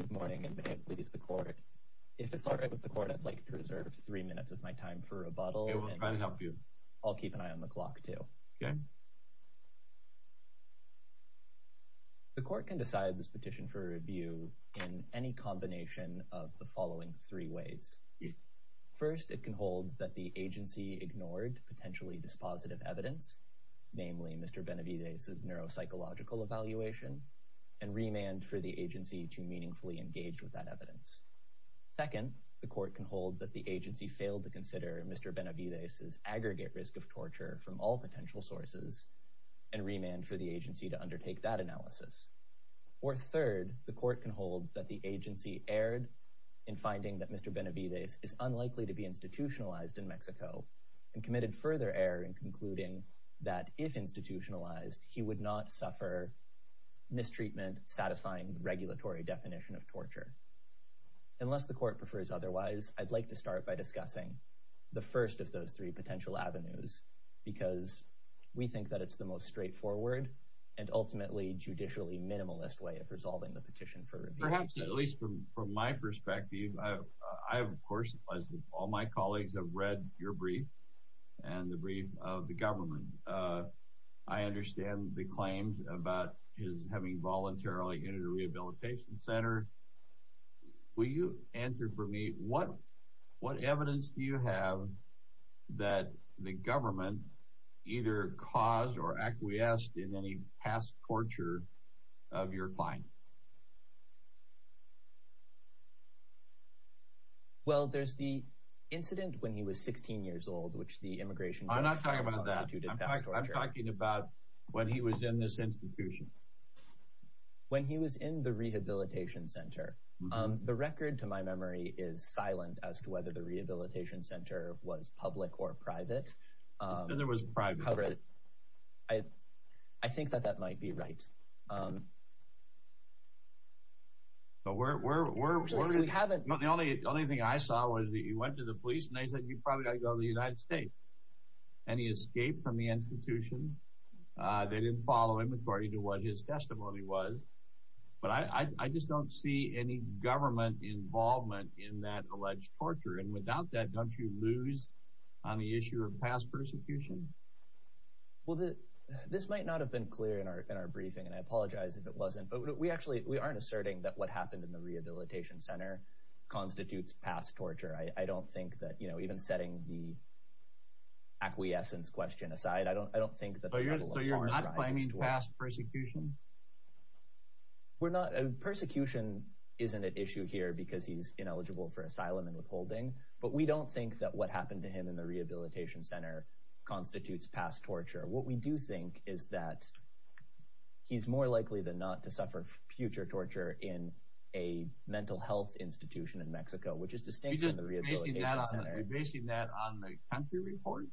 Good morning and may it please the court. If it's all right with the court I'd like to reserve three minutes of my time for rebuttal. I'll keep an eye on the clock too. The court can decide this petition for review in any combination of the following three ways. First it can hold that the agency ignored potentially dispositive evidence, namely Mr. Benavidez's neuropsychological evaluation and remand for the agency to meaningfully engage with that evidence. Second the court can hold that the agency failed to consider Mr. Benavidez's aggregate risk of torture from all potential sources and remand for the agency to undertake that analysis. Or third the court can hold that the agency erred in finding that Mr. Benavidez is unlikely to be institutionalized in Mexico and committed further error in concluding that if institutionalized he would not suffer mistreatment satisfying the regulatory definition of torture. Unless the court prefers otherwise I'd like to start by discussing the first of those three potential avenues because we think that it's the most straightforward and ultimately judicially minimalist way of resolving the petition for review. At least from from my perspective I have of course as all my colleagues have read your brief and the brief of the government. I understand the claims about his having voluntarily entered a rehabilitation center. Will you answer for me what what evidence do you have that the government either caused or acquiesced in any past torture of your client? Well there's the incident when he was 16 years old which the immigration... I'm not talking about that. I'm talking about when he was in this institution. When he was in the rehabilitation center. The record to my memory is silent as to whether the rehabilitation center was public or private. I think that that might be right. But we haven't... The only only thing I saw was he went to the escape from the institution. They didn't follow him according to what his testimony was. But I just don't see any government involvement in that alleged torture. And without that don't you lose on the issue of past persecution? Well this might not have been clear in our briefing and I apologize if it wasn't. But we actually we aren't asserting that what happened in the rehabilitation center constitutes past torture. I don't think that you know even setting the acquiescence question aside. I don't I don't think that... So you're not claiming past persecution? We're not. Persecution isn't an issue here because he's ineligible for asylum and withholding. But we don't think that what happened to him in the rehabilitation center constitutes past torture. What we do think is that he's more likely than not to suffer future torture in a mental health institution in Mexico. Which is distinct from the rehabilitation center. You're basing that on the country report?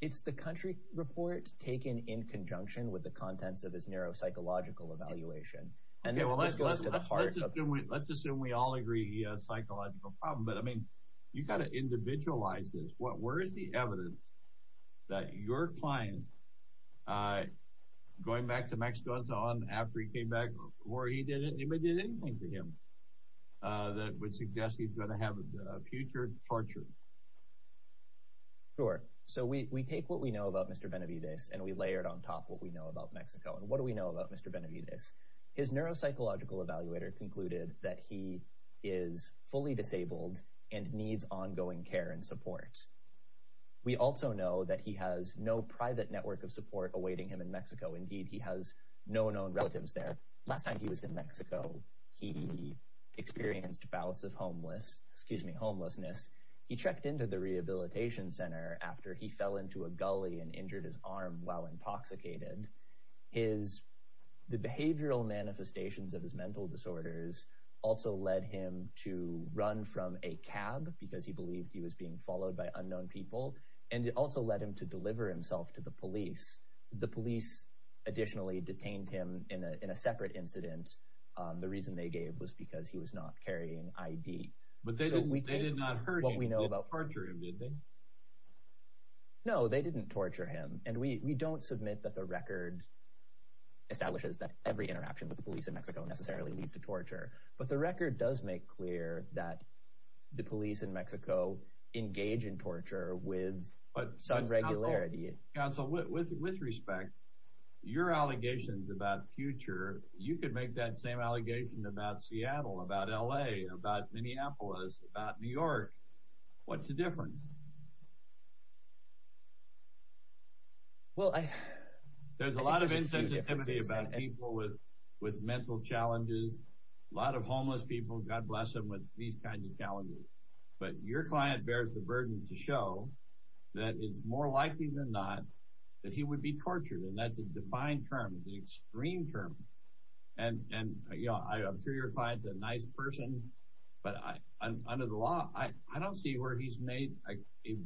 It's the country report taken in conjunction with the contents of his neuropsychological evaluation. Okay well let's assume we all agree he has a psychological problem. But I mean you've got to individualize this. Where is the evidence that your client going back to Mexico and so on after he came back or he didn't do anything to him? That would suggest he's going to have a future torture. Sure. So we take what we know about Mr. Benavides and we layer it on top what we know about Mexico. And what do we know about Mr. Benavides? His neuropsychological evaluator concluded that he is fully disabled and needs ongoing care and support. We also know that he has no private network of support awaiting him in Mexico. Indeed he has no known relatives there. Last time he was in Mexico he experienced bouts of homeless excuse me homelessness. He checked into the rehabilitation center after he fell into a gully and injured his arm while intoxicated. His the behavioral manifestations of his mental disorders also led him to run from a cab because he believed he was being followed by unknown people. And it also led him to deliver himself to the police. The police additionally detained him in a separate incident. The reason they gave was because he was not carrying ID. But they did not hurt him. They didn't torture him did they? No they didn't torture him. And we don't submit that the record establishes that every interaction with the police in Mexico necessarily leads to torture. But the record does make clear that the police in Mexico engage in allegations about future you could make that same allegation about Seattle about LA about Minneapolis about New York. What's the difference? Well I there's a lot of insensitivity about people with with mental challenges. A lot of homeless people God bless them with these kinds of challenges. But your client bears the burden to show that it's more likely than not that he would be tortured. And that's a defined term. It's an extreme term. And and you know I'm sure your client's a nice person. But I under the law I don't see where he's made a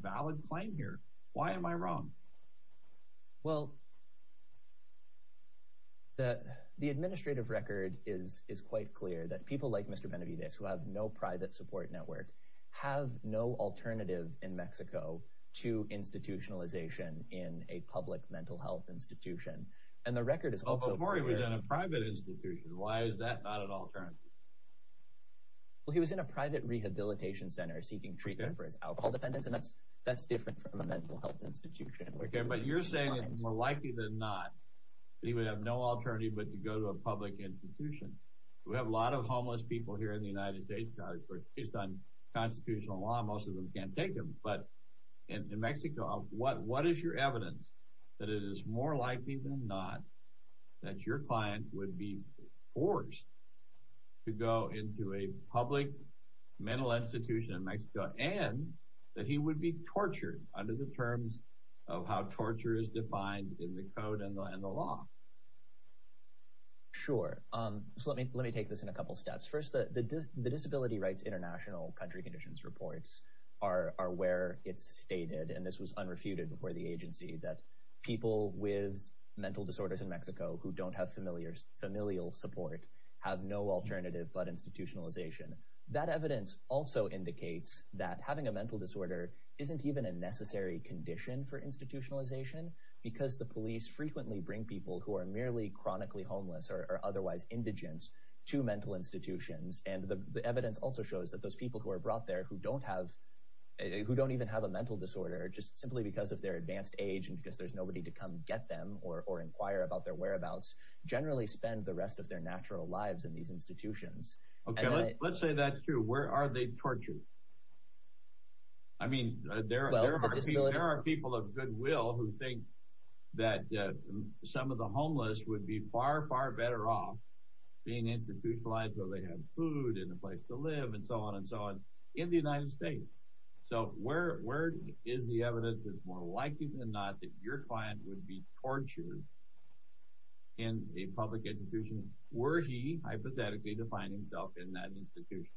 valid claim here. Why am I wrong? Well the the administrative record is is quite clear that people like Mr. Benavidez who have no private support network have no alternative in Mexico to institutionalization in a public mental health institution. And the record is also a private institution. Why is that not an alternative? Well he was in a private rehabilitation center seeking treatment for his alcohol dependence and that's that's different from a mental health institution. Okay but you're saying it's more likely than not that he would have no alternative but to go to a public institution. We have a lot of homeless people here in the United States guys based on constitutional law most of them can't take them. But in Mexico what what is your evidence that it is more likely than not that your client would be forced to go into a public mental institution in Mexico and that he would be tortured under the terms of how torture is defined in the code and the law. Sure um so let me let me take this in a couple steps. First the disability rights international country conditions reports are where it's stated and this was unrefuted before the agency that people with mental disorders in Mexico who don't have familiar familial support have no alternative but institutionalization. That evidence also indicates that having a mental disorder isn't even a necessary condition for institutionalization because the police frequently bring people who are merely chronically homeless or otherwise indigent to mental institutions and the evidence also shows that those people who are brought there who don't have a who don't even have a mental disorder just simply because of their advanced age and because there's nobody to come get them or inquire about their whereabouts generally spend the rest of their natural lives in these institutions. Okay let's say that's true where are they tortured? I mean there are people of goodwill who think that some of the they have food and a place to live and so on and so on in the United States so where where is the evidence that's more likely than not that your client would be tortured in a public institution were he hypothetically define himself in that institution?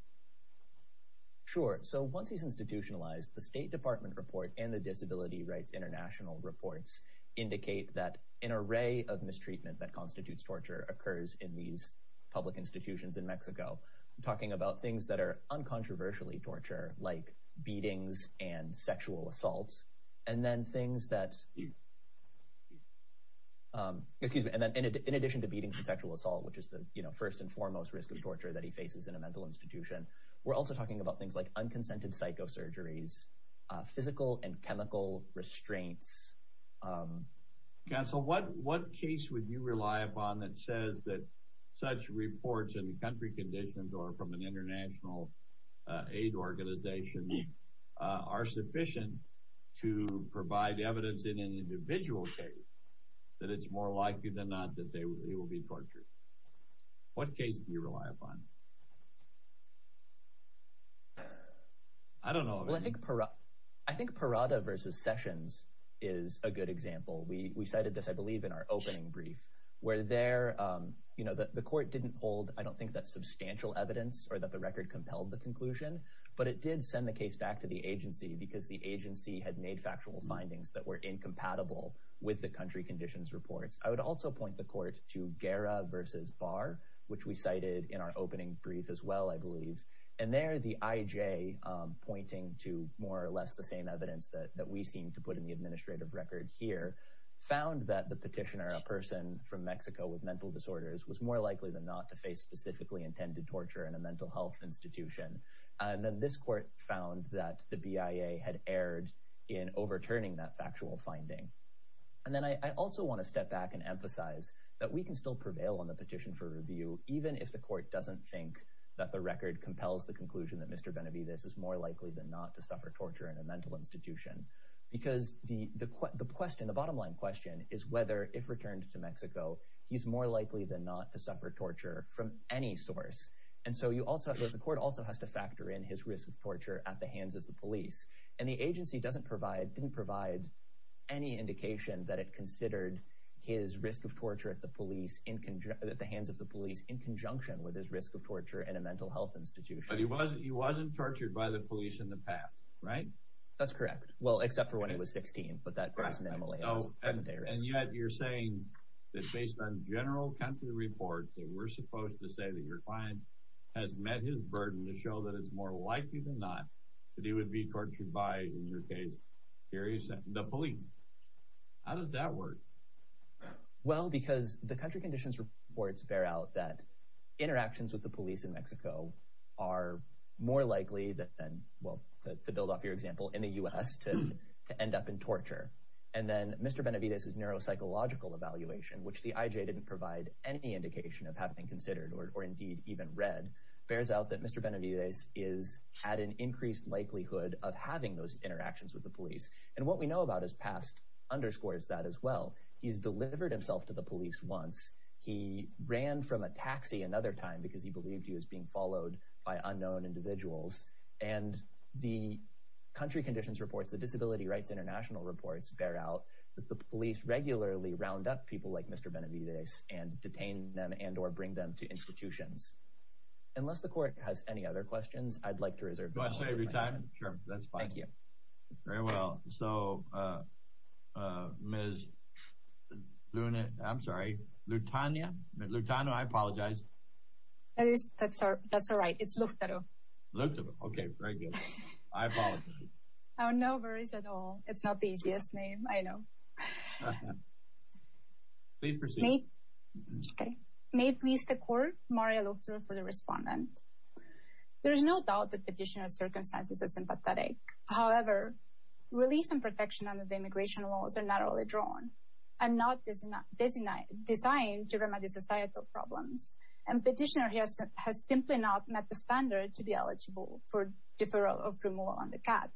Sure so once he's institutionalized the state department report and the disability rights international reports indicate that an array of mistreatment that constitutes torture occurs in these public institutions in Mexico. I'm talking about things that are uncontroversially torture like beatings and sexual assaults and then things that excuse me and then in addition to beatings and sexual assault which is the you know first and foremost risk of torture that he faces in a mental institution we're also talking about things like unconsented psychosurgeries physical and chemical restraints. Counsel what what case would you rely upon that says that such reports in the country conditions or from an international aid organization are sufficient to provide evidence in an individual case that it's more likely than not that they will be tortured? What case do you rely upon? I don't know I think I think Parada versus Sessions is a good example we cited this I didn't hold I don't think that substantial evidence or that the record compelled the conclusion but it did send the case back to the agency because the agency had made factual findings that were incompatible with the country conditions reports. I would also point the court to Guerra versus Barr which we cited in our opening brief as well I believe and there the IJ pointing to more or less the same evidence that we seem to put in the administrative record here found that the petitioner a person from Mexico with mental disorders was more likely than not to face specifically intended torture in a mental health institution and then this court found that the BIA had erred in overturning that factual finding and then I also want to step back and emphasize that we can still prevail on the petition for review even if the court doesn't think that the record compels the conclusion that Mr. Benavides is more likely than not to suffer torture in a mental institution because the the question the bottom line question is whether if returned to Mexico he's more likely than not to suffer torture from any source and so you also have the court also has to factor in his risk of torture at the hands of the police and the agency doesn't provide didn't provide any indication that it considered his risk of torture at the police in conjunction at the hands of the police in conjunction with his risk of torture in a mental health institution he wasn't he wasn't tortured by the police in the past right that's correct well except for when it was 16 but that based on general country reports that we're supposed to say that your client has met his burden to show that it's more likely than not that he would be tortured by in your case here is the police how does that work well because the country conditions reports bear out that interactions with the police in Mexico are more likely that then well to build off your example in the u.s. to end up in torture and then mr. Benavides is neuropsychological evaluation which the IJ didn't provide any indication of having considered or indeed even read bears out that mr. Benavides is had an increased likelihood of having those interactions with the police and what we know about his past underscores that as well he's delivered himself to the police once he ran from a taxi another time because he believed he was being followed by unknown individuals and the country conditions reports the Disability Rights International reports bear out that the police regularly round up people like mr. Benavides and detain them and or bring them to institutions unless the court has any other questions I'd like to reserve every time thank you very well so I'm sorry Lutania Lutano I apologize that's our that's all right it's looked at oh okay I know it's not the easiest name I know may please the court Mario look through for the respondent there is no doubt that petitioner circumstances are sympathetic however relief and protection under the immigration laws are not only drawn I'm not busy not busy night design to remedy societal problems and petitioner has simply not met the standard to be eligible for deferral of removal on the cat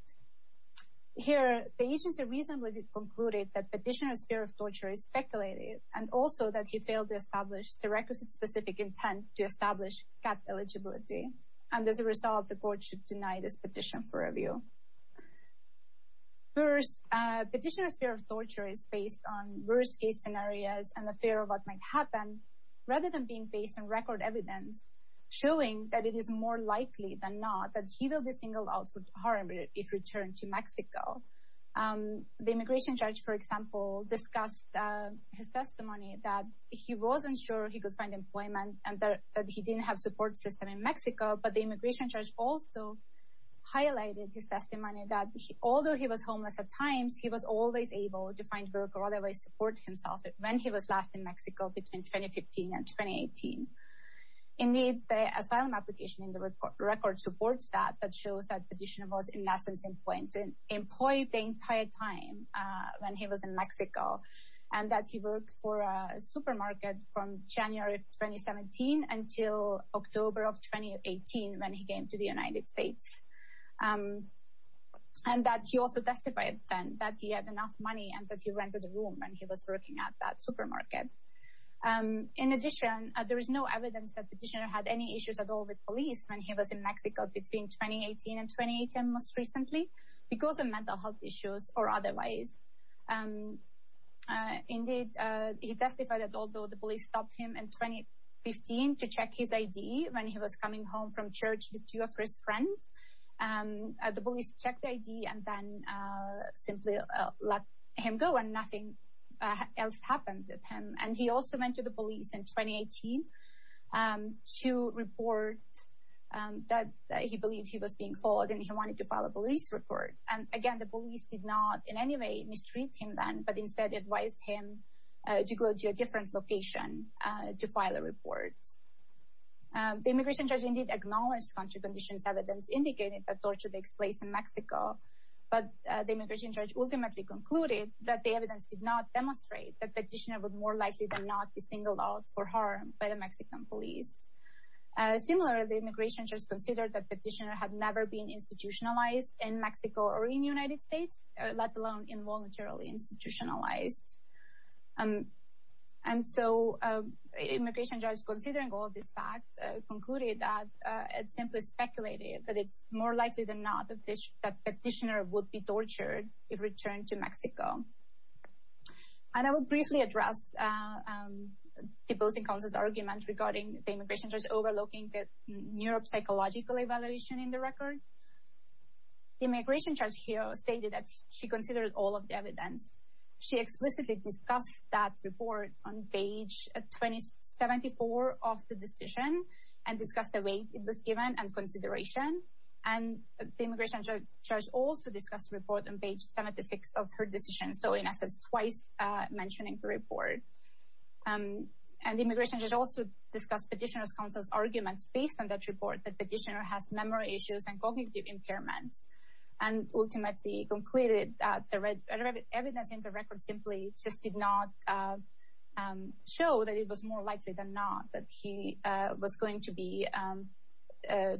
here the agency reasonably concluded that petitioners fear of torture is speculated and also that he failed to establish the requisite specific intent to establish that eligibility and as a result the court should deny this petition for review first petitioners fear of torture is based on worst-case scenarios and the fear of what might happen rather than being based on record evidence showing that it is more likely than not that he will be singled out for harm if returned to Mexico the immigration judge for example discussed his testimony that he wasn't sure he could find employment and that he didn't have support system in Mexico but the immigration judge also highlighted his testimony that although he was homeless at times he was always able to find work or otherwise support himself when he was last in Mexico between 2015 and 2018 in need the asylum application in the record record supports that that shows that petitioner was in essence in point and employed the entire time when he was in Mexico and that he worked for a supermarket from January 2017 until October of 2018 when he came to the United States and that he also testified then that he had enough money and that he rented a room and he was working at that supermarket in addition there is no evidence that petitioner had any issues at all with police when he was in Mexico between 2018 and 2018 most recently because of mental health issues or otherwise indeed he testified that although the police stopped him in 2015 to check his ID when he was coming home from church with two of his friends and the police checked the ID and then simply let him go and nothing else happened with him and he also went to the police in 2018 to report that he believed he was being followed and he wanted to file a police report and again the police did not in any way mistreat him then but instead advised him to go to a different location to file a report the immigration judge indeed acknowledged country conditions evidence indicated that torture takes place in Mexico but the immigration judge ultimately concluded that the evidence did not demonstrate that petitioner would more likely than not be singled out for harm by the Mexican police similarly immigration just considered that petitioner had never been institutionalized in Mexico or in United States let alone involuntarily institutionalized and so immigration judge considering all of this fact concluded that it simply speculated that it's more likely than not that petitioner would be tortured if returned to Mexico and I will briefly address the opposing counsel's argument regarding the immigration judge overlooking the neuropsychological evaluation in the record the immigration judge here stated that she considered all of the evidence she explicitly discussed that report on page 20 74 of the decision and discussed the way it was given and consideration and the immigration judge also discussed report on page 76 of her decision so in essence twice mentioning the report and the immigration judge also discussed petitioner's counsel's arguments based on that report that petitioner has memory issues and cognitive impairments and ultimately concluded that the red evidence in the record simply just did not show that it was more likely than not that he was going to be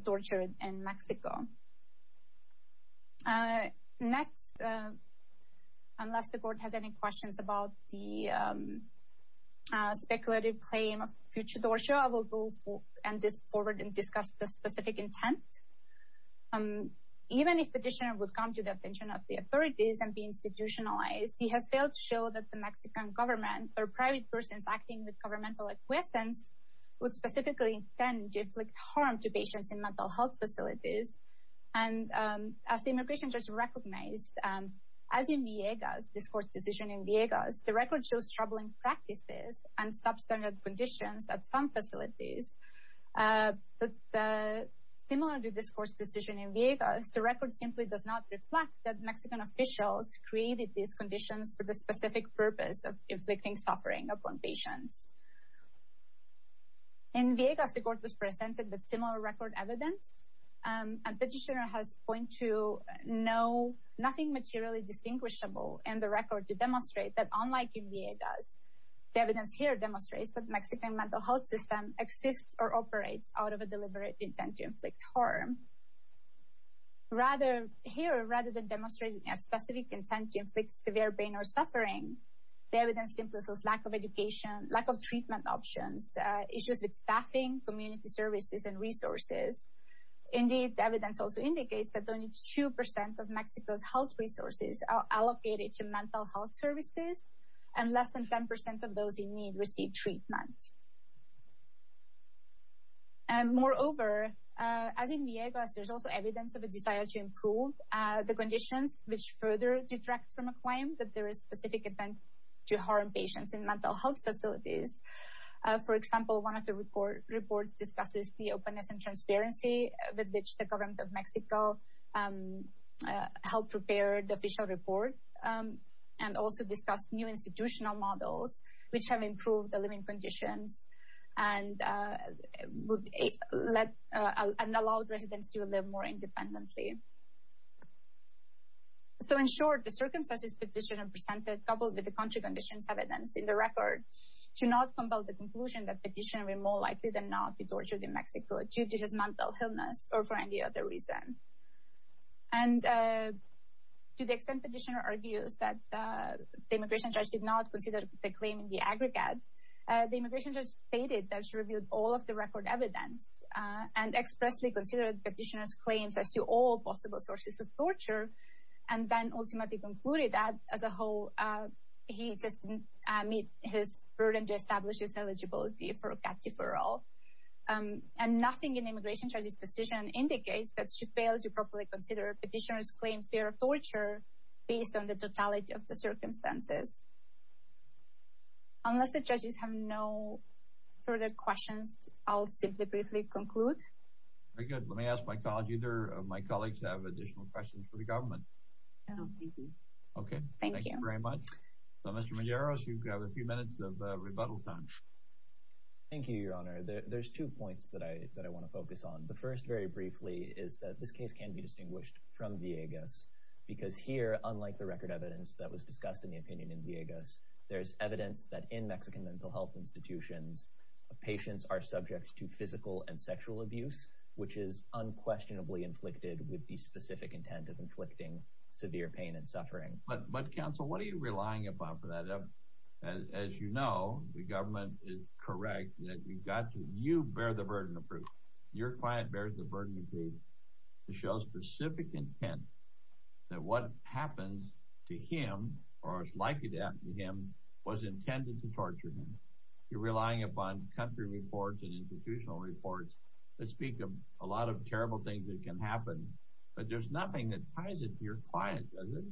tortured in Mexico next unless the court has any questions about the speculative claim of future torture I will go for and this the specific intent even if petitioner would come to the attention of the authorities and be institutionalized he has failed to show that the Mexican government or private persons acting with governmental acquiescence would specifically tend to inflict harm to patients in mental health facilities and as the immigration judge recognized as in Viegas this court's decision in Viegas the record shows troubling practices and substandard conditions at some facilities but the similar to this course decision in Vegas the record simply does not reflect that Mexican officials created these conditions for the specific purpose of inflicting suffering upon patients in Vegas the court was presented with similar record evidence and petitioner has point to no nothing materially distinguishable and the record to demonstrate that unlike in Vegas the evidence here demonstrates that Mexican mental health system exists or operates out of a deliberate intent to inflict harm rather here rather than demonstrating a specific intent to inflict severe pain or suffering the evidence influences lack of education lack of treatment options issues with staffing community services and resources indeed the evidence also indicates that only 2% of Mexico's health resources are allocated to mental health services and less than 10% of those in need receive treatment and moreover as in Viegas there's also evidence of a desire to improve the conditions which further detract from a claim that there is specific event to harm patients in mental health facilities for example one of the report reports discusses the openness and transparency with which the government of Mexico helped prepare the official report and also discussed new institutional models which have improved the living conditions and let and allowed residents to live more independently so in short the circumstances petitioner presented coupled with the country conditions evidence in the record to not compel the conclusion that petitioner more likely than not be tortured in and to the extent petitioner argues that the immigration judge did not consider the claim in the aggregate the immigration judge stated that she reviewed all of the record evidence and expressly considered petitioners claims as to all possible sources of torture and then ultimately concluded that as a whole he just meet his burden to establish his eligibility for a cat indicates that she failed to properly consider petitioners claim fear of torture based on the totality of the circumstances unless the judges have no further questions I'll simply briefly conclude good let me ask my college either of my colleagues have additional questions for the government okay thank you very much so mr. Madero's you've got a few minutes of rebuttal time thank you your honor there's two points that I that I want to focus on the first very briefly is that this case can be distinguished from Viegas because here unlike the record evidence that was discussed in the opinion in Viegas there's evidence that in Mexican mental health institutions patients are subject to physical and sexual abuse which is unquestionably inflicted with the specific intent of inflicting severe pain and suffering but but counsel what you bear the burden of proof your client bears the burden of faith to show specific intent that what happens to him or as likely to happen to him was intended to torture him you're relying upon country reports and institutional reports that speak of a lot of terrible things that can happen but there's nothing that ties it to your client doesn't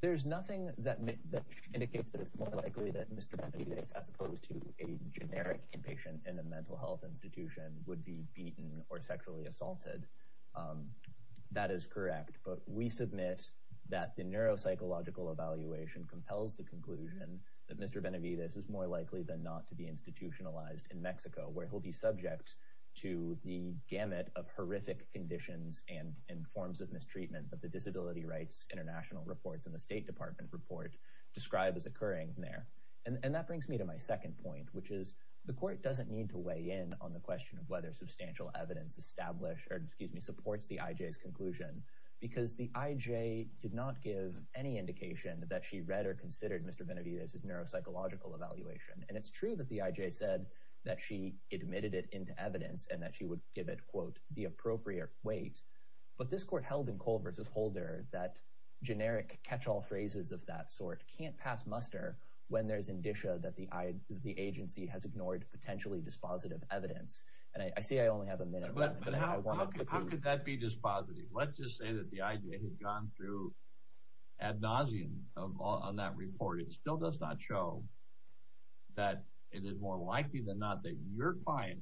there's nothing that indicates that as opposed to a generic inpatient in a mental health institution would be beaten or sexually assaulted that is correct but we submit that the neuropsychological evaluation compels the conclusion that mr. Benavides is more likely than not to be institutionalized in Mexico where he'll be subject to the gamut of horrific conditions and in forms of mistreatment of the disability rights international reports in the State Department report described as occurring there and that brings me to my second point which is the court doesn't need to weigh in on the question of whether substantial evidence established or excuse me supports the IJ's conclusion because the IJ did not give any indication that she read or considered mr. Benavides is neuropsychological evaluation and it's true that the IJ said that she admitted it into evidence and that she would give it quote the appropriate weight but this catch-all phrases of that sort can't pass muster when there's indicia that the I the agency has ignored potentially dispositive evidence and I see I only have a minute but how could that be dispositive let's just say that the idea had gone through ad nauseam on that report it still does not show that it is more likely than not that your client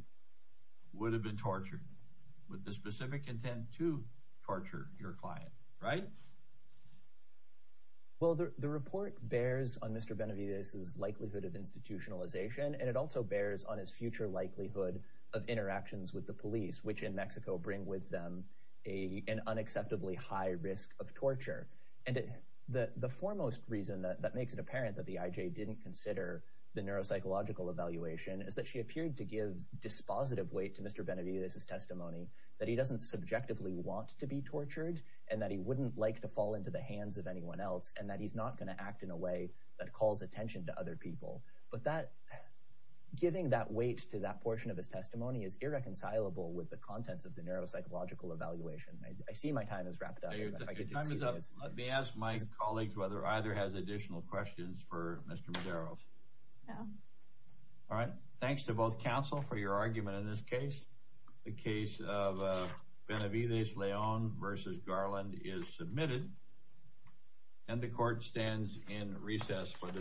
would have been tortured with the well the report bears on mr. Benavides likelihood of institutionalization and it also bears on his future likelihood of interactions with the police which in Mexico bring with them a an unacceptably high risk of torture and it the the foremost reason that that makes it apparent that the IJ didn't consider the neuropsychological evaluation is that she appeared to give dispositive weight to mr. Benavides his testimony that he doesn't subjectively want to be else and that he's not going to act in a way that calls attention to other people but that giving that weight to that portion of his testimony is irreconcilable with the contents of the neuropsychological evaluation I see my time is wrapped up let me ask my colleagues whether either has additional questions for mr. Madero all right thanks to both counsel for your argument in this case the case of Benavides Leon versus Garland is and the court stands in recess for the day